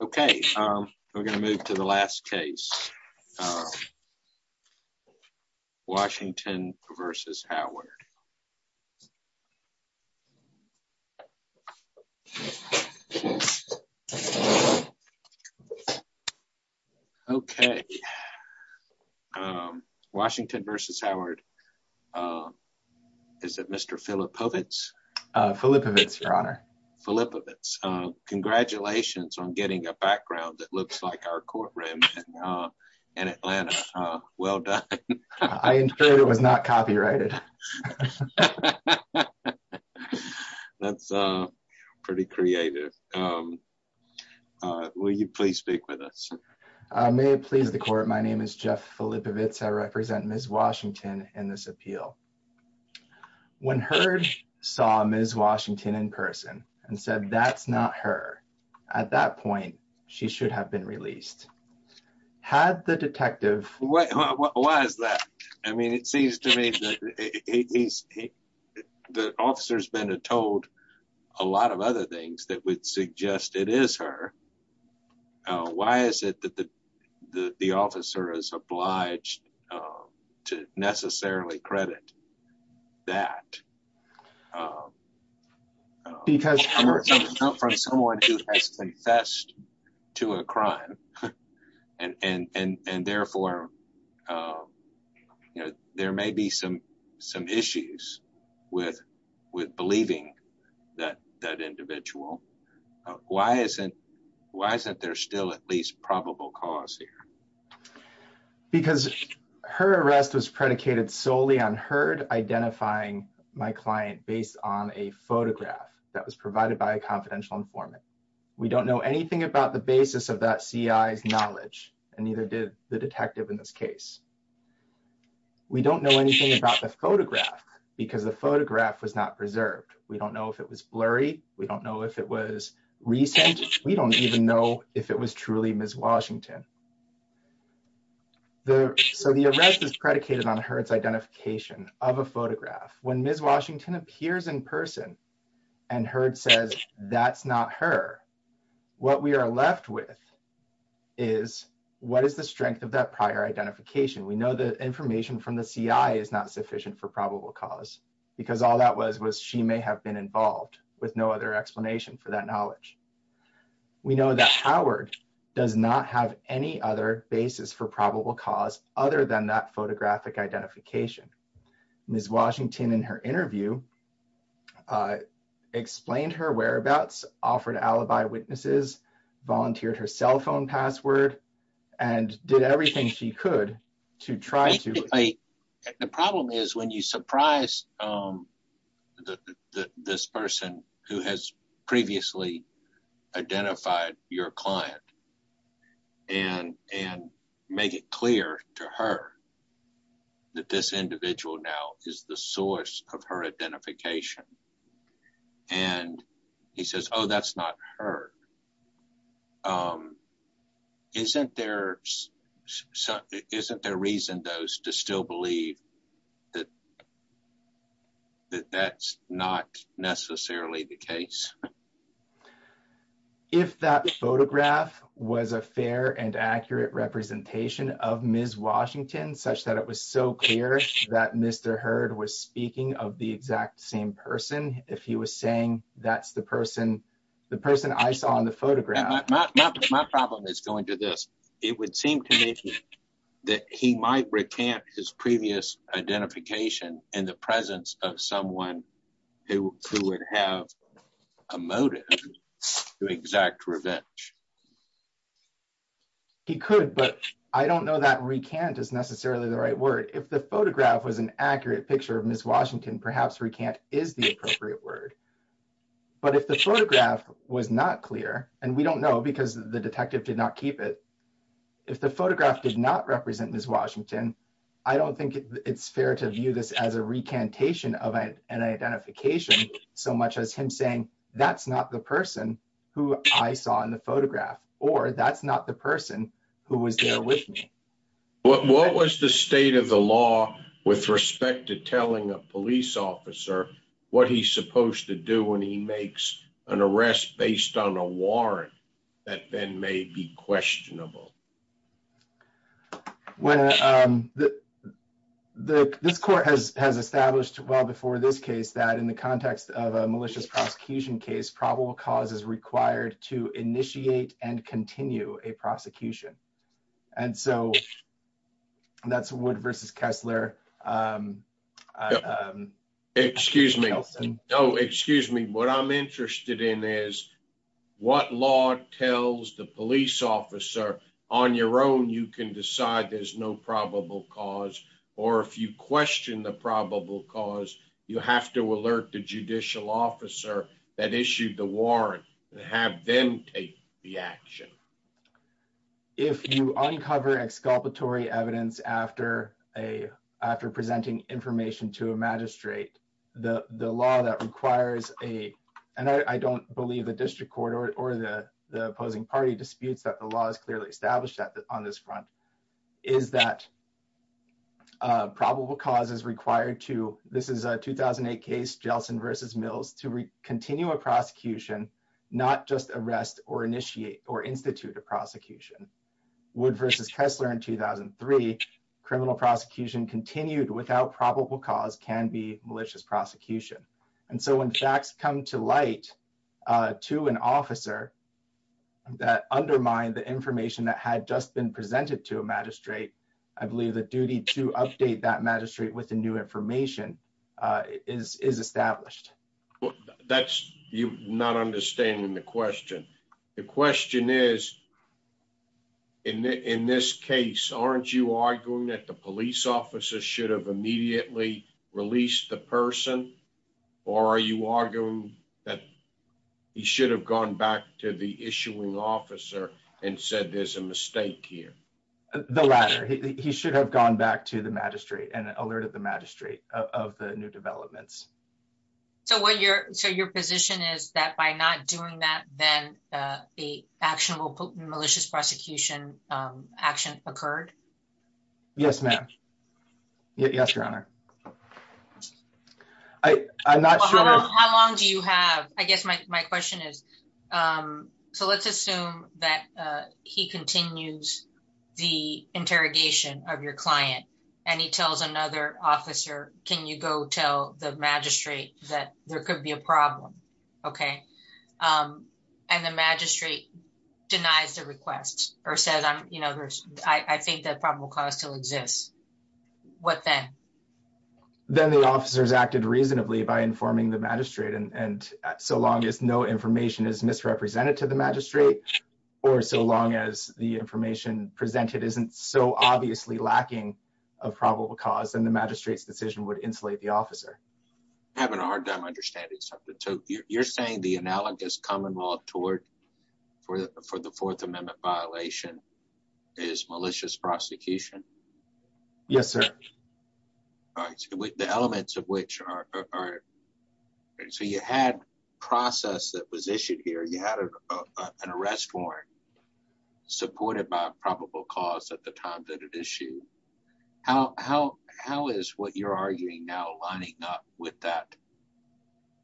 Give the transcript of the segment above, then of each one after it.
Okay, we're going to move to the last case. Washington versus Howard. Okay. Washington versus Howard. Is it Mr. Philip Povitz? Philip Povitz, Your Honor. Philip Povitz. Congratulations on getting a background that looks like our courtroom in Atlanta. Well done. I ensure it was not copyrighted. That's pretty creative. Will you please speak with us? May it please the court. My name is Jeff Philip Povitz. I represent Ms. Washington in this appeal. When Heard saw Ms. Washington in person and said, that's not her. At that point, she should have been released. Had the detective... Why is that? I mean, it seems to me that he's... The officer's been told a lot of other things that would suggest it is her. Why is it that the officer is obliged to necessarily credit that? Because it's from someone who has confessed to a crime. And therefore, there may be some issues with believing that individual. Why isn't there still at least probable cause here? Because her arrest was predicated solely on Heard identifying my client based on a photograph that was provided by a confidential informant. We don't know anything about the basis of that CI's knowledge, and neither did the detective in this case. We don't know anything about the photograph because the photograph was not preserved. We don't know if it was blurry. We don't know if it was recent. We don't even know if it was truly Ms. Washington. So the arrest is predicated on Heard's identification of a photograph. When Ms. Washington appears in person and Heard says, that's not her. What we are left with is, what is the strength of that prior identification? We know that information from the CI is not sufficient for probable cause. Because all that was, was she may have been involved with no other explanation for that knowledge. We know that Howard does not have any other basis for probable cause other than that photographic identification. Ms. Washington, in her interview, explained her whereabouts, offered alibi witnesses, volunteered her cell phone password, and did everything she could to try to... Is the source of her identification. And he says, oh, that's not her. Isn't there... Isn't there reason, though, to still believe that that's not necessarily the case? If that photograph was a fair and accurate representation of Ms. Washington, such that it was so clear that Mr. Heard was speaking of the exact same person. If he was saying, that's the person, the person I saw in the photograph. My problem is going to this. It would seem to me that he might recant his previous identification in the presence of someone who would have a motive to exact revenge. He could, but I don't know that recant is necessarily the right word. If the photograph was an accurate picture of Ms. Washington, perhaps recant is the appropriate word. But if the photograph was not clear, and we don't know because the detective did not keep it. If the photograph did not represent Ms. Washington, I don't think it's fair to view this as a recantation of an identification so much as him saying, that's not the person who I saw in the photograph, or that's not the person who was there with me. What was the state of the law with respect to telling a police officer what he's supposed to do when he makes an arrest based on a warrant that then may be questionable? This court has established well before this case that in the context of a malicious prosecution case probable cause is required to initiate and continue a prosecution. And so that's Wood versus Kessler. Excuse me. What I'm interested in is what law tells the police officer on your own, you can decide there's no probable cause, or if you question the probable cause, you have to alert the judicial officer that issued the warrant and have them take the action. If you uncover exculpatory evidence after presenting information to a magistrate, the law that requires a, and I don't believe the district court or the opposing party disputes that the law is clearly established on this front, is that probable cause is required to, this is a 2008 case, Jelson versus Mills, to continue a prosecution, not just arrest or initiate or institute a prosecution. Wood versus Kessler in 2003, criminal prosecution continued without probable cause can be malicious prosecution. And so when facts come to light to an officer that undermine the information that had just been presented to a magistrate, I believe the duty to update that magistrate with the new information is established. That's, you're not understanding the question. The question is, in this case, aren't you arguing that the police officer should have immediately released the person? Or are you arguing that he should have gone back to the issuing officer and said there's a mistake here? The latter. He should have gone back to the magistrate and alerted the magistrate of the new developments. So what you're, so your position is that by not doing that, then the actionable malicious prosecution action occurred? Yes, ma'am. Yes, Your Honor. I'm not sure. How long do you have? I guess my question is, so let's assume that he continues the interrogation of your client and he tells another officer, can you go tell the magistrate that there could be a problem? Okay. And the magistrate denies the request or says, I think that probable cause still exists. What then? Then the officers acted reasonably by informing the magistrate and so long as no information is misrepresented to the magistrate, or so long as the information presented isn't so obviously lacking of probable cause and the magistrate's decision would insulate the officer. I'm having a hard time understanding something. So you're saying the analogous common law toward for the Fourth Amendment violation is malicious prosecution? Yes, sir. The elements of which are, so you had process that was issued here, you had an arrest warrant supported by probable cause at the time that it issued. How is what you're arguing now lining up with that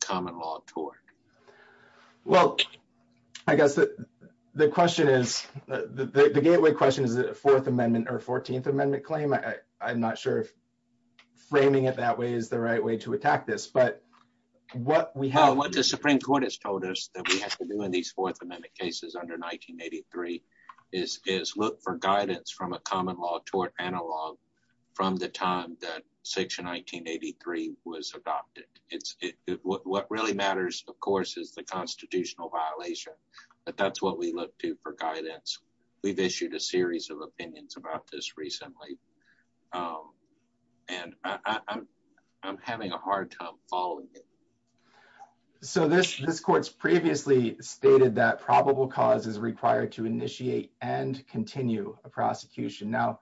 common law toward? Well, I guess the question is, the gateway question is the Fourth Amendment or 14th Amendment claim. I'm not sure if framing it that way is the right way to attack this, but what we have. So what the Supreme Court has told us that we have to do in these Fourth Amendment cases under 1983 is look for guidance from a common law toward analog from the time that Section 1983 was adopted. What really matters, of course, is the constitutional violation, but that's what we look to for guidance. We've issued a series of opinions about this recently. And I'm having a hard time following it. So this this court's previously stated that probable cause is required to initiate and continue a prosecution. Now,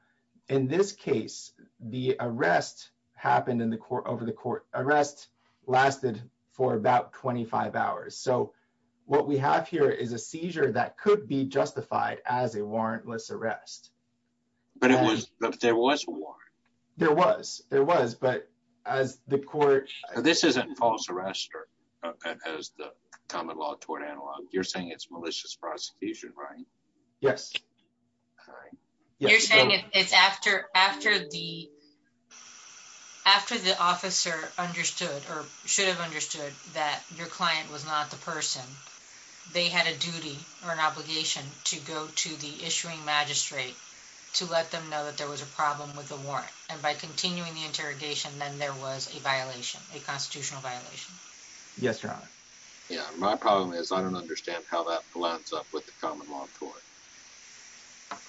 in this case, the arrest happened in the court over the court arrest lasted for about 25 hours. So what we have here is a seizure that could be justified as a warrantless arrest. But there was a warrant. There was, there was, but as the court. This isn't false arrest as the common law toward analog. You're saying it's malicious prosecution, right? Yes. You're saying it's after after the after the officer understood or should have understood that your client was not the person they had a duty or an obligation to go to the issuing magistrate to let them know that there was a problem with the warrant. And by continuing the interrogation, then there was a violation, a constitutional violation. Yes, your honor. Yeah, my problem is I don't understand how that lines up with the common law court.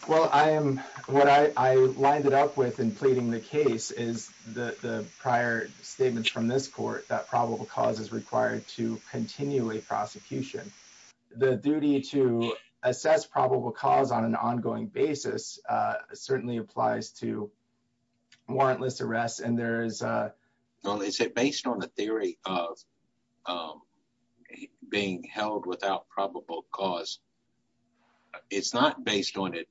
Well, I am what I lined it up with and pleading the case is the prior statements from this court that probable cause is required to continue a prosecution. The duty to assess probable cause on an ongoing basis certainly applies to warrantless arrest. And there is a. Well, is it based on the theory of being held without probable cause? It's not based on it.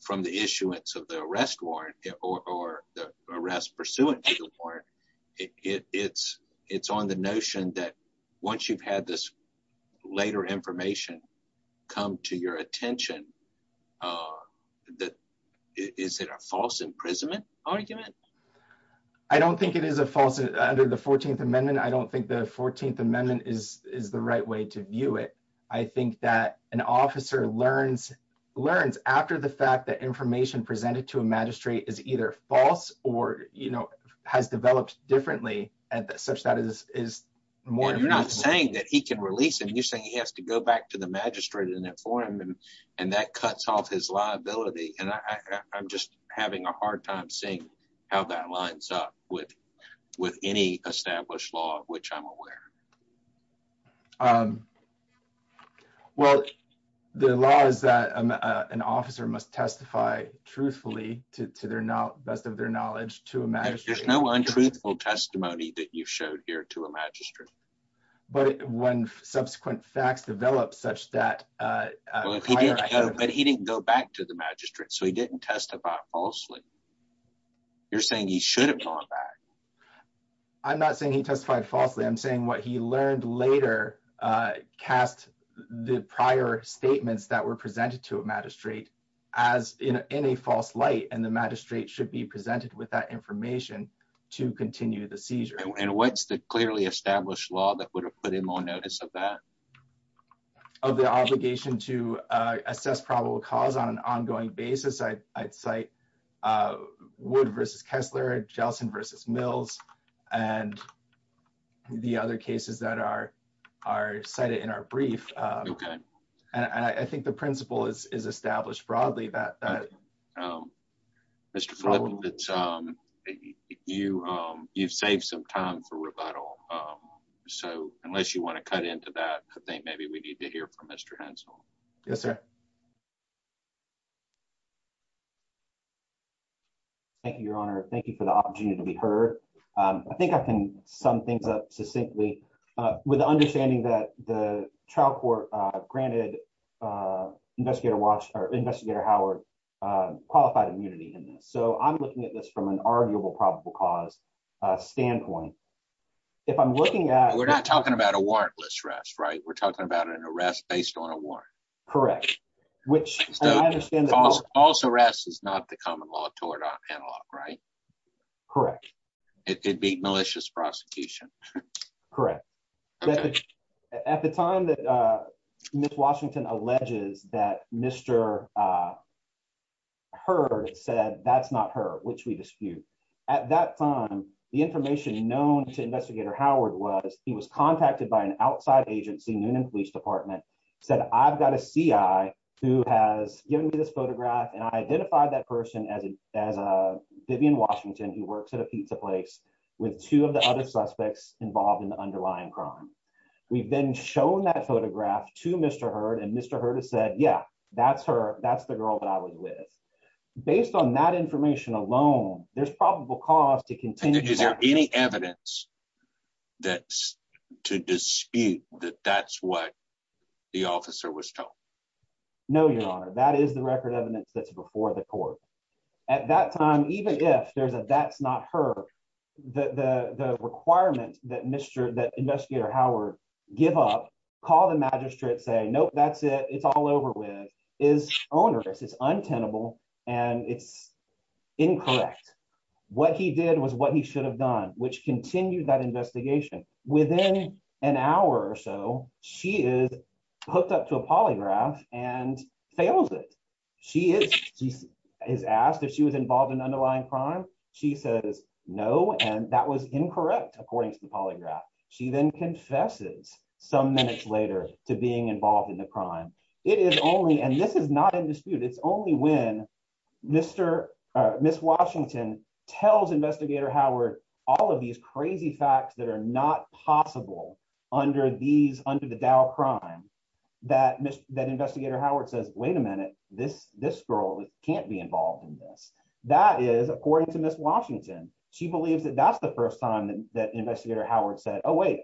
From the issuance of the arrest warrant or the arrest pursuant to the warrant. It's it's on the notion that once you've had this later information come to your attention, that is it a false imprisonment argument? I don't think it is a false under the 14th Amendment. I don't think the 14th Amendment is is the right way to view it. I think that an officer learns learns after the fact that information presented to a magistrate is either false or, you know, has developed differently. And such that is is more you're not saying that he can release him. You're saying he has to go back to the magistrate in that forum and that cuts off his liability. And I'm just having a hard time saying how that lines up with with any established law of which I'm aware. Well, the law is that an officer must testify truthfully to their not best of their knowledge to imagine there's no untruthful testimony. That you've showed here to a magistrate. But when subsequent facts develop such that he didn't go back to the magistrate, so he didn't testify falsely. You're saying he should have gone back. I'm not saying he testified falsely. I'm saying what he learned later cast the prior statements that were presented to a magistrate as in a false light and the magistrate should be presented with that information to continue the seizure. And what's the clearly established law that would have put him on notice of that? Of the obligation to assess probable cause on an ongoing basis. I'd cite Wood versus Kessler, Jelson versus Mills, and the other cases that are are cited in our brief. And I think the principle is established broadly that Mr. Yes, sir. Thank you, Your Honor. Thank you for the opportunity to be heard. I think I can sum things up succinctly with the understanding that the trial court granted investigator watch or investigator Howard qualified immunity in this. So I'm looking at this from an arguable probable cause standpoint. If I'm looking at. We're not talking about a warrantless arrest, right? We're talking about an arrest based on a warrant. Correct. Which I understand false arrest is not the common law toward analog, right? Correct. It'd be malicious prosecution. Correct. At the time that Miss Washington alleges that Mr. Heard said, that's not her, which we dispute. At that time, the information known to investigator Howard was he was contacted by an outside agency. Said, I've got a CI who has given me this photograph and I identified that person as a, as a Vivian Washington who works at a pizza place with two of the other suspects involved in the underlying crime. We've been shown that photograph to Mr. Heard and Mr. Heard has said, yeah, that's her. That's the girl that I was with. Based on that information alone, there's probable cause to continue. Is there any evidence that's to dispute that that's what the officer was told? No, your honor. That is the record evidence that's before the court at that time. Even if there's a, that's not her, the, the, the requirement that Mr. That investigator Howard give up, call the magistrate, say, Nope, that's it. It's all over with is onerous. It's untenable and it's incorrect. What he did was what he should have done, which continued that investigation within an hour. So she is hooked up to a polygraph and fails it. She is, she is asked if she was involved in underlying crime. She says no. And that was incorrect. According to the polygraph. She then confesses some minutes later to being involved in the crime. It is only, and this is not in dispute. It's only when Mr. Ms. Washington tells investigator Howard, all of these crazy facts that are not possible under these under the Dow crime. That Mr. That investigator Howard says, wait a minute, this, this girl can't be involved in this. That is according to Ms. Washington. She believes that that's the first time that investigator Howard said, Oh, wait,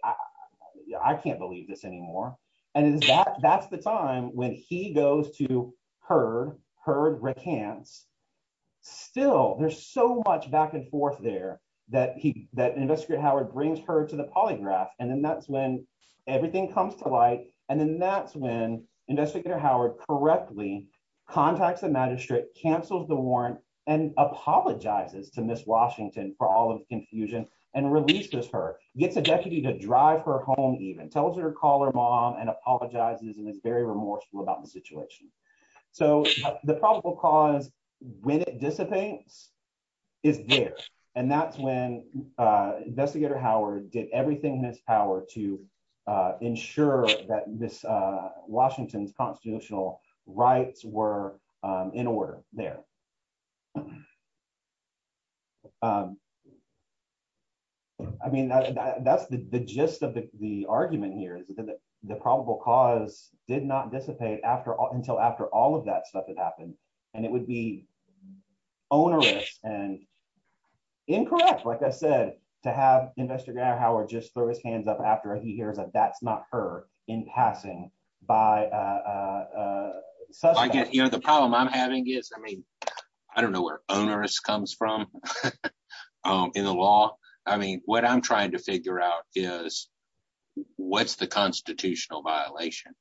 I can't believe this anymore. And is that that's the time when he goes to her, her recants. Still, there's so much back and forth there that he, that investigator Howard brings her to the polygraph. And then that's when everything comes to light. And then that's when investigator Howard correctly contacts the magistrate cancels the warrant and apologizes to Ms. Washington for all of the confusion and releases her gets a deputy to drive her home, even tells her to call her mom and apologizes. And it's very remorseful about the situation. So the probable cause when it dissipates is there. And that's when investigator Howard did everything in his power to ensure that this Washington's constitutional rights were in order there. I mean, that's the gist of the argument here is that the probable cause did not dissipate after until after all of that stuff that happened. And it would be onerous and incorrect like I said to have investigator Howard just throw his hands up after he hears that that's not her in passing by. I get the problem I'm having is, I mean, I don't know where onerous comes from in the law. I mean, what I'm trying to figure out is what's the constitutional violation.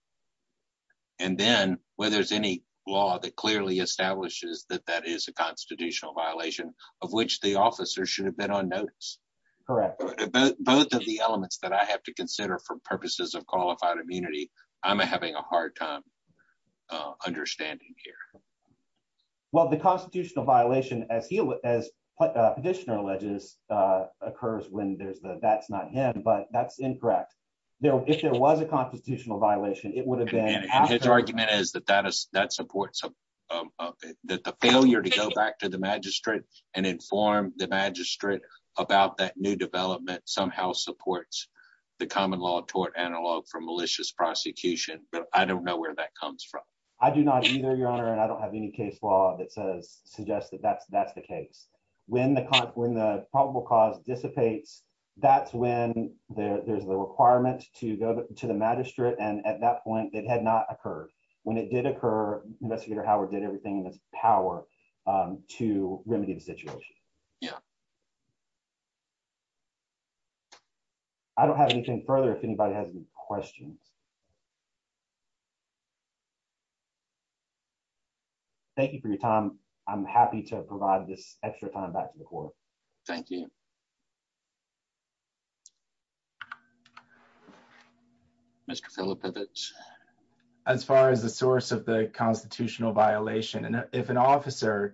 And then whether there's any law that clearly establishes that that is a constitutional violation of which the officer should have been on notice. Correct. Both of the elements that I have to consider for purposes of qualified immunity. I'm having a hard time understanding here. Well, the constitutional violation as he as petitioner alleges occurs when there's the that's not him but that's incorrect. If there was a constitutional violation, it would have been his argument is that that is that supports that the failure to go back to the magistrate and inform the magistrate about that new development somehow supports the common law toward analog for malicious prosecution, but I don't know where that comes from. I do not either your honor and I don't have any case law that says suggest that that's that's the case when the when the probable cause dissipates. That's when there's the requirement to go to the magistrate and at that point that had not occurred when it did occur, investigator Howard did everything that's power to remedy the situation. Yeah. I don't have anything further if anybody has any questions. Thank you for your time. I'm happy to provide this extra time back to the court. Thank you. Mr. As far as the source of the constitutional violation and if an officer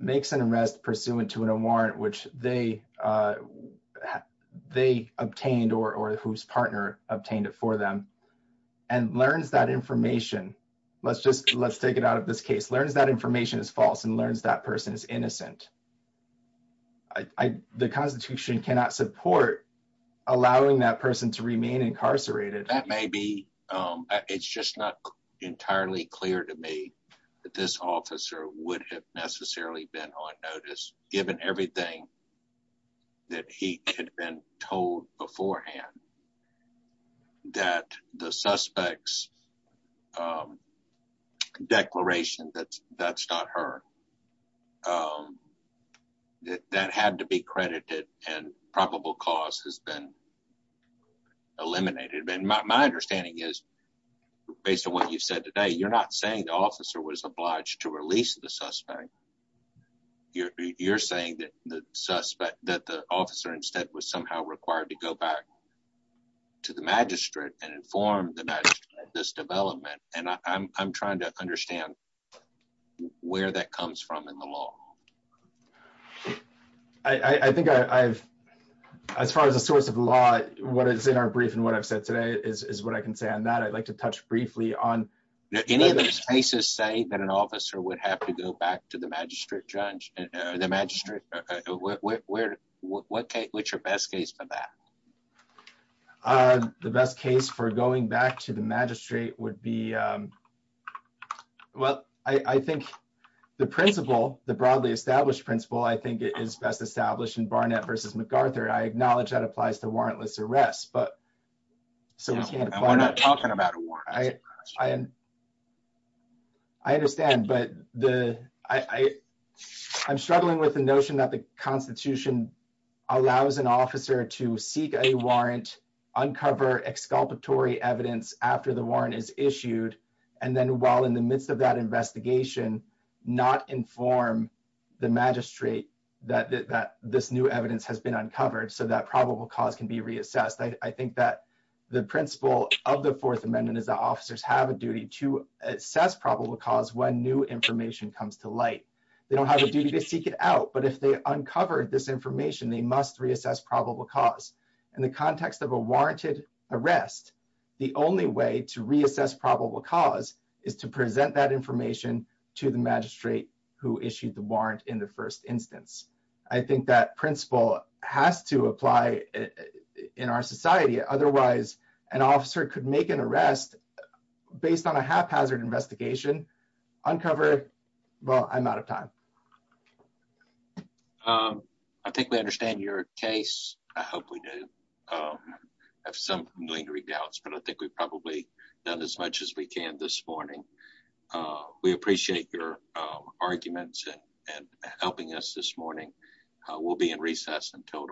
makes an arrest pursuant to a warrant which they, they obtained or whose partner obtained it for them, and learns that information. Let's just let's take it out of this case learns that information is false and learns that person is innocent. I, the Constitution cannot support, allowing that person to remain incarcerated that may be. It's just not entirely clear to me that this officer would have necessarily been on notice, given everything that he had been told beforehand that the suspects declaration that that's not her. That that had to be credited and probable cause has been eliminated and my understanding is based on what you said today you're not saying the officer was obliged to release the suspect. You're saying that the suspect that the officer instead was somehow required to go back to the magistrate and inform this development, and I'm trying to understand where that comes from in the law. I think I've. As far as the source of law, what is in our brief and what I've said today is what I can say on that I'd like to touch briefly on any of these cases say that an officer would have to go back to the magistrate judge, the magistrate, where, what, what, what's your best case for that. The best case for going back to the magistrate would be. Well, I think the principle, the broadly established principle I think it is best established in Barnett versus MacArthur I acknowledge that applies to warrantless arrest but so we're not talking about. I am. I understand but the, I, I'm struggling with the notion that the Constitution allows an officer to seek a warrant uncover exculpatory evidence after the warrant is issued. And then while in the midst of that investigation, not inform the magistrate that that this new evidence has been uncovered so that probable cause can be reassessed I think that the principle of the Fourth Amendment is the officers have a duty to assess probable cause when new information comes to light. They don't have a duty to seek it out but if they uncover this information they must reassess probable cause, and the context of a warranted arrest. The only way to reassess probable cause is to present that information to the magistrate who issued the warrant in the first instance, I think that principle has to apply in our society. Otherwise, an officer could make an arrest. Based on a haphazard investigation uncover. Well, I'm out of time. I think we understand your case, I hope we do have some lingering doubts but I think we've probably done as much as we can this morning. We appreciate your arguments and helping us this morning. We'll be in recess until tomorrow.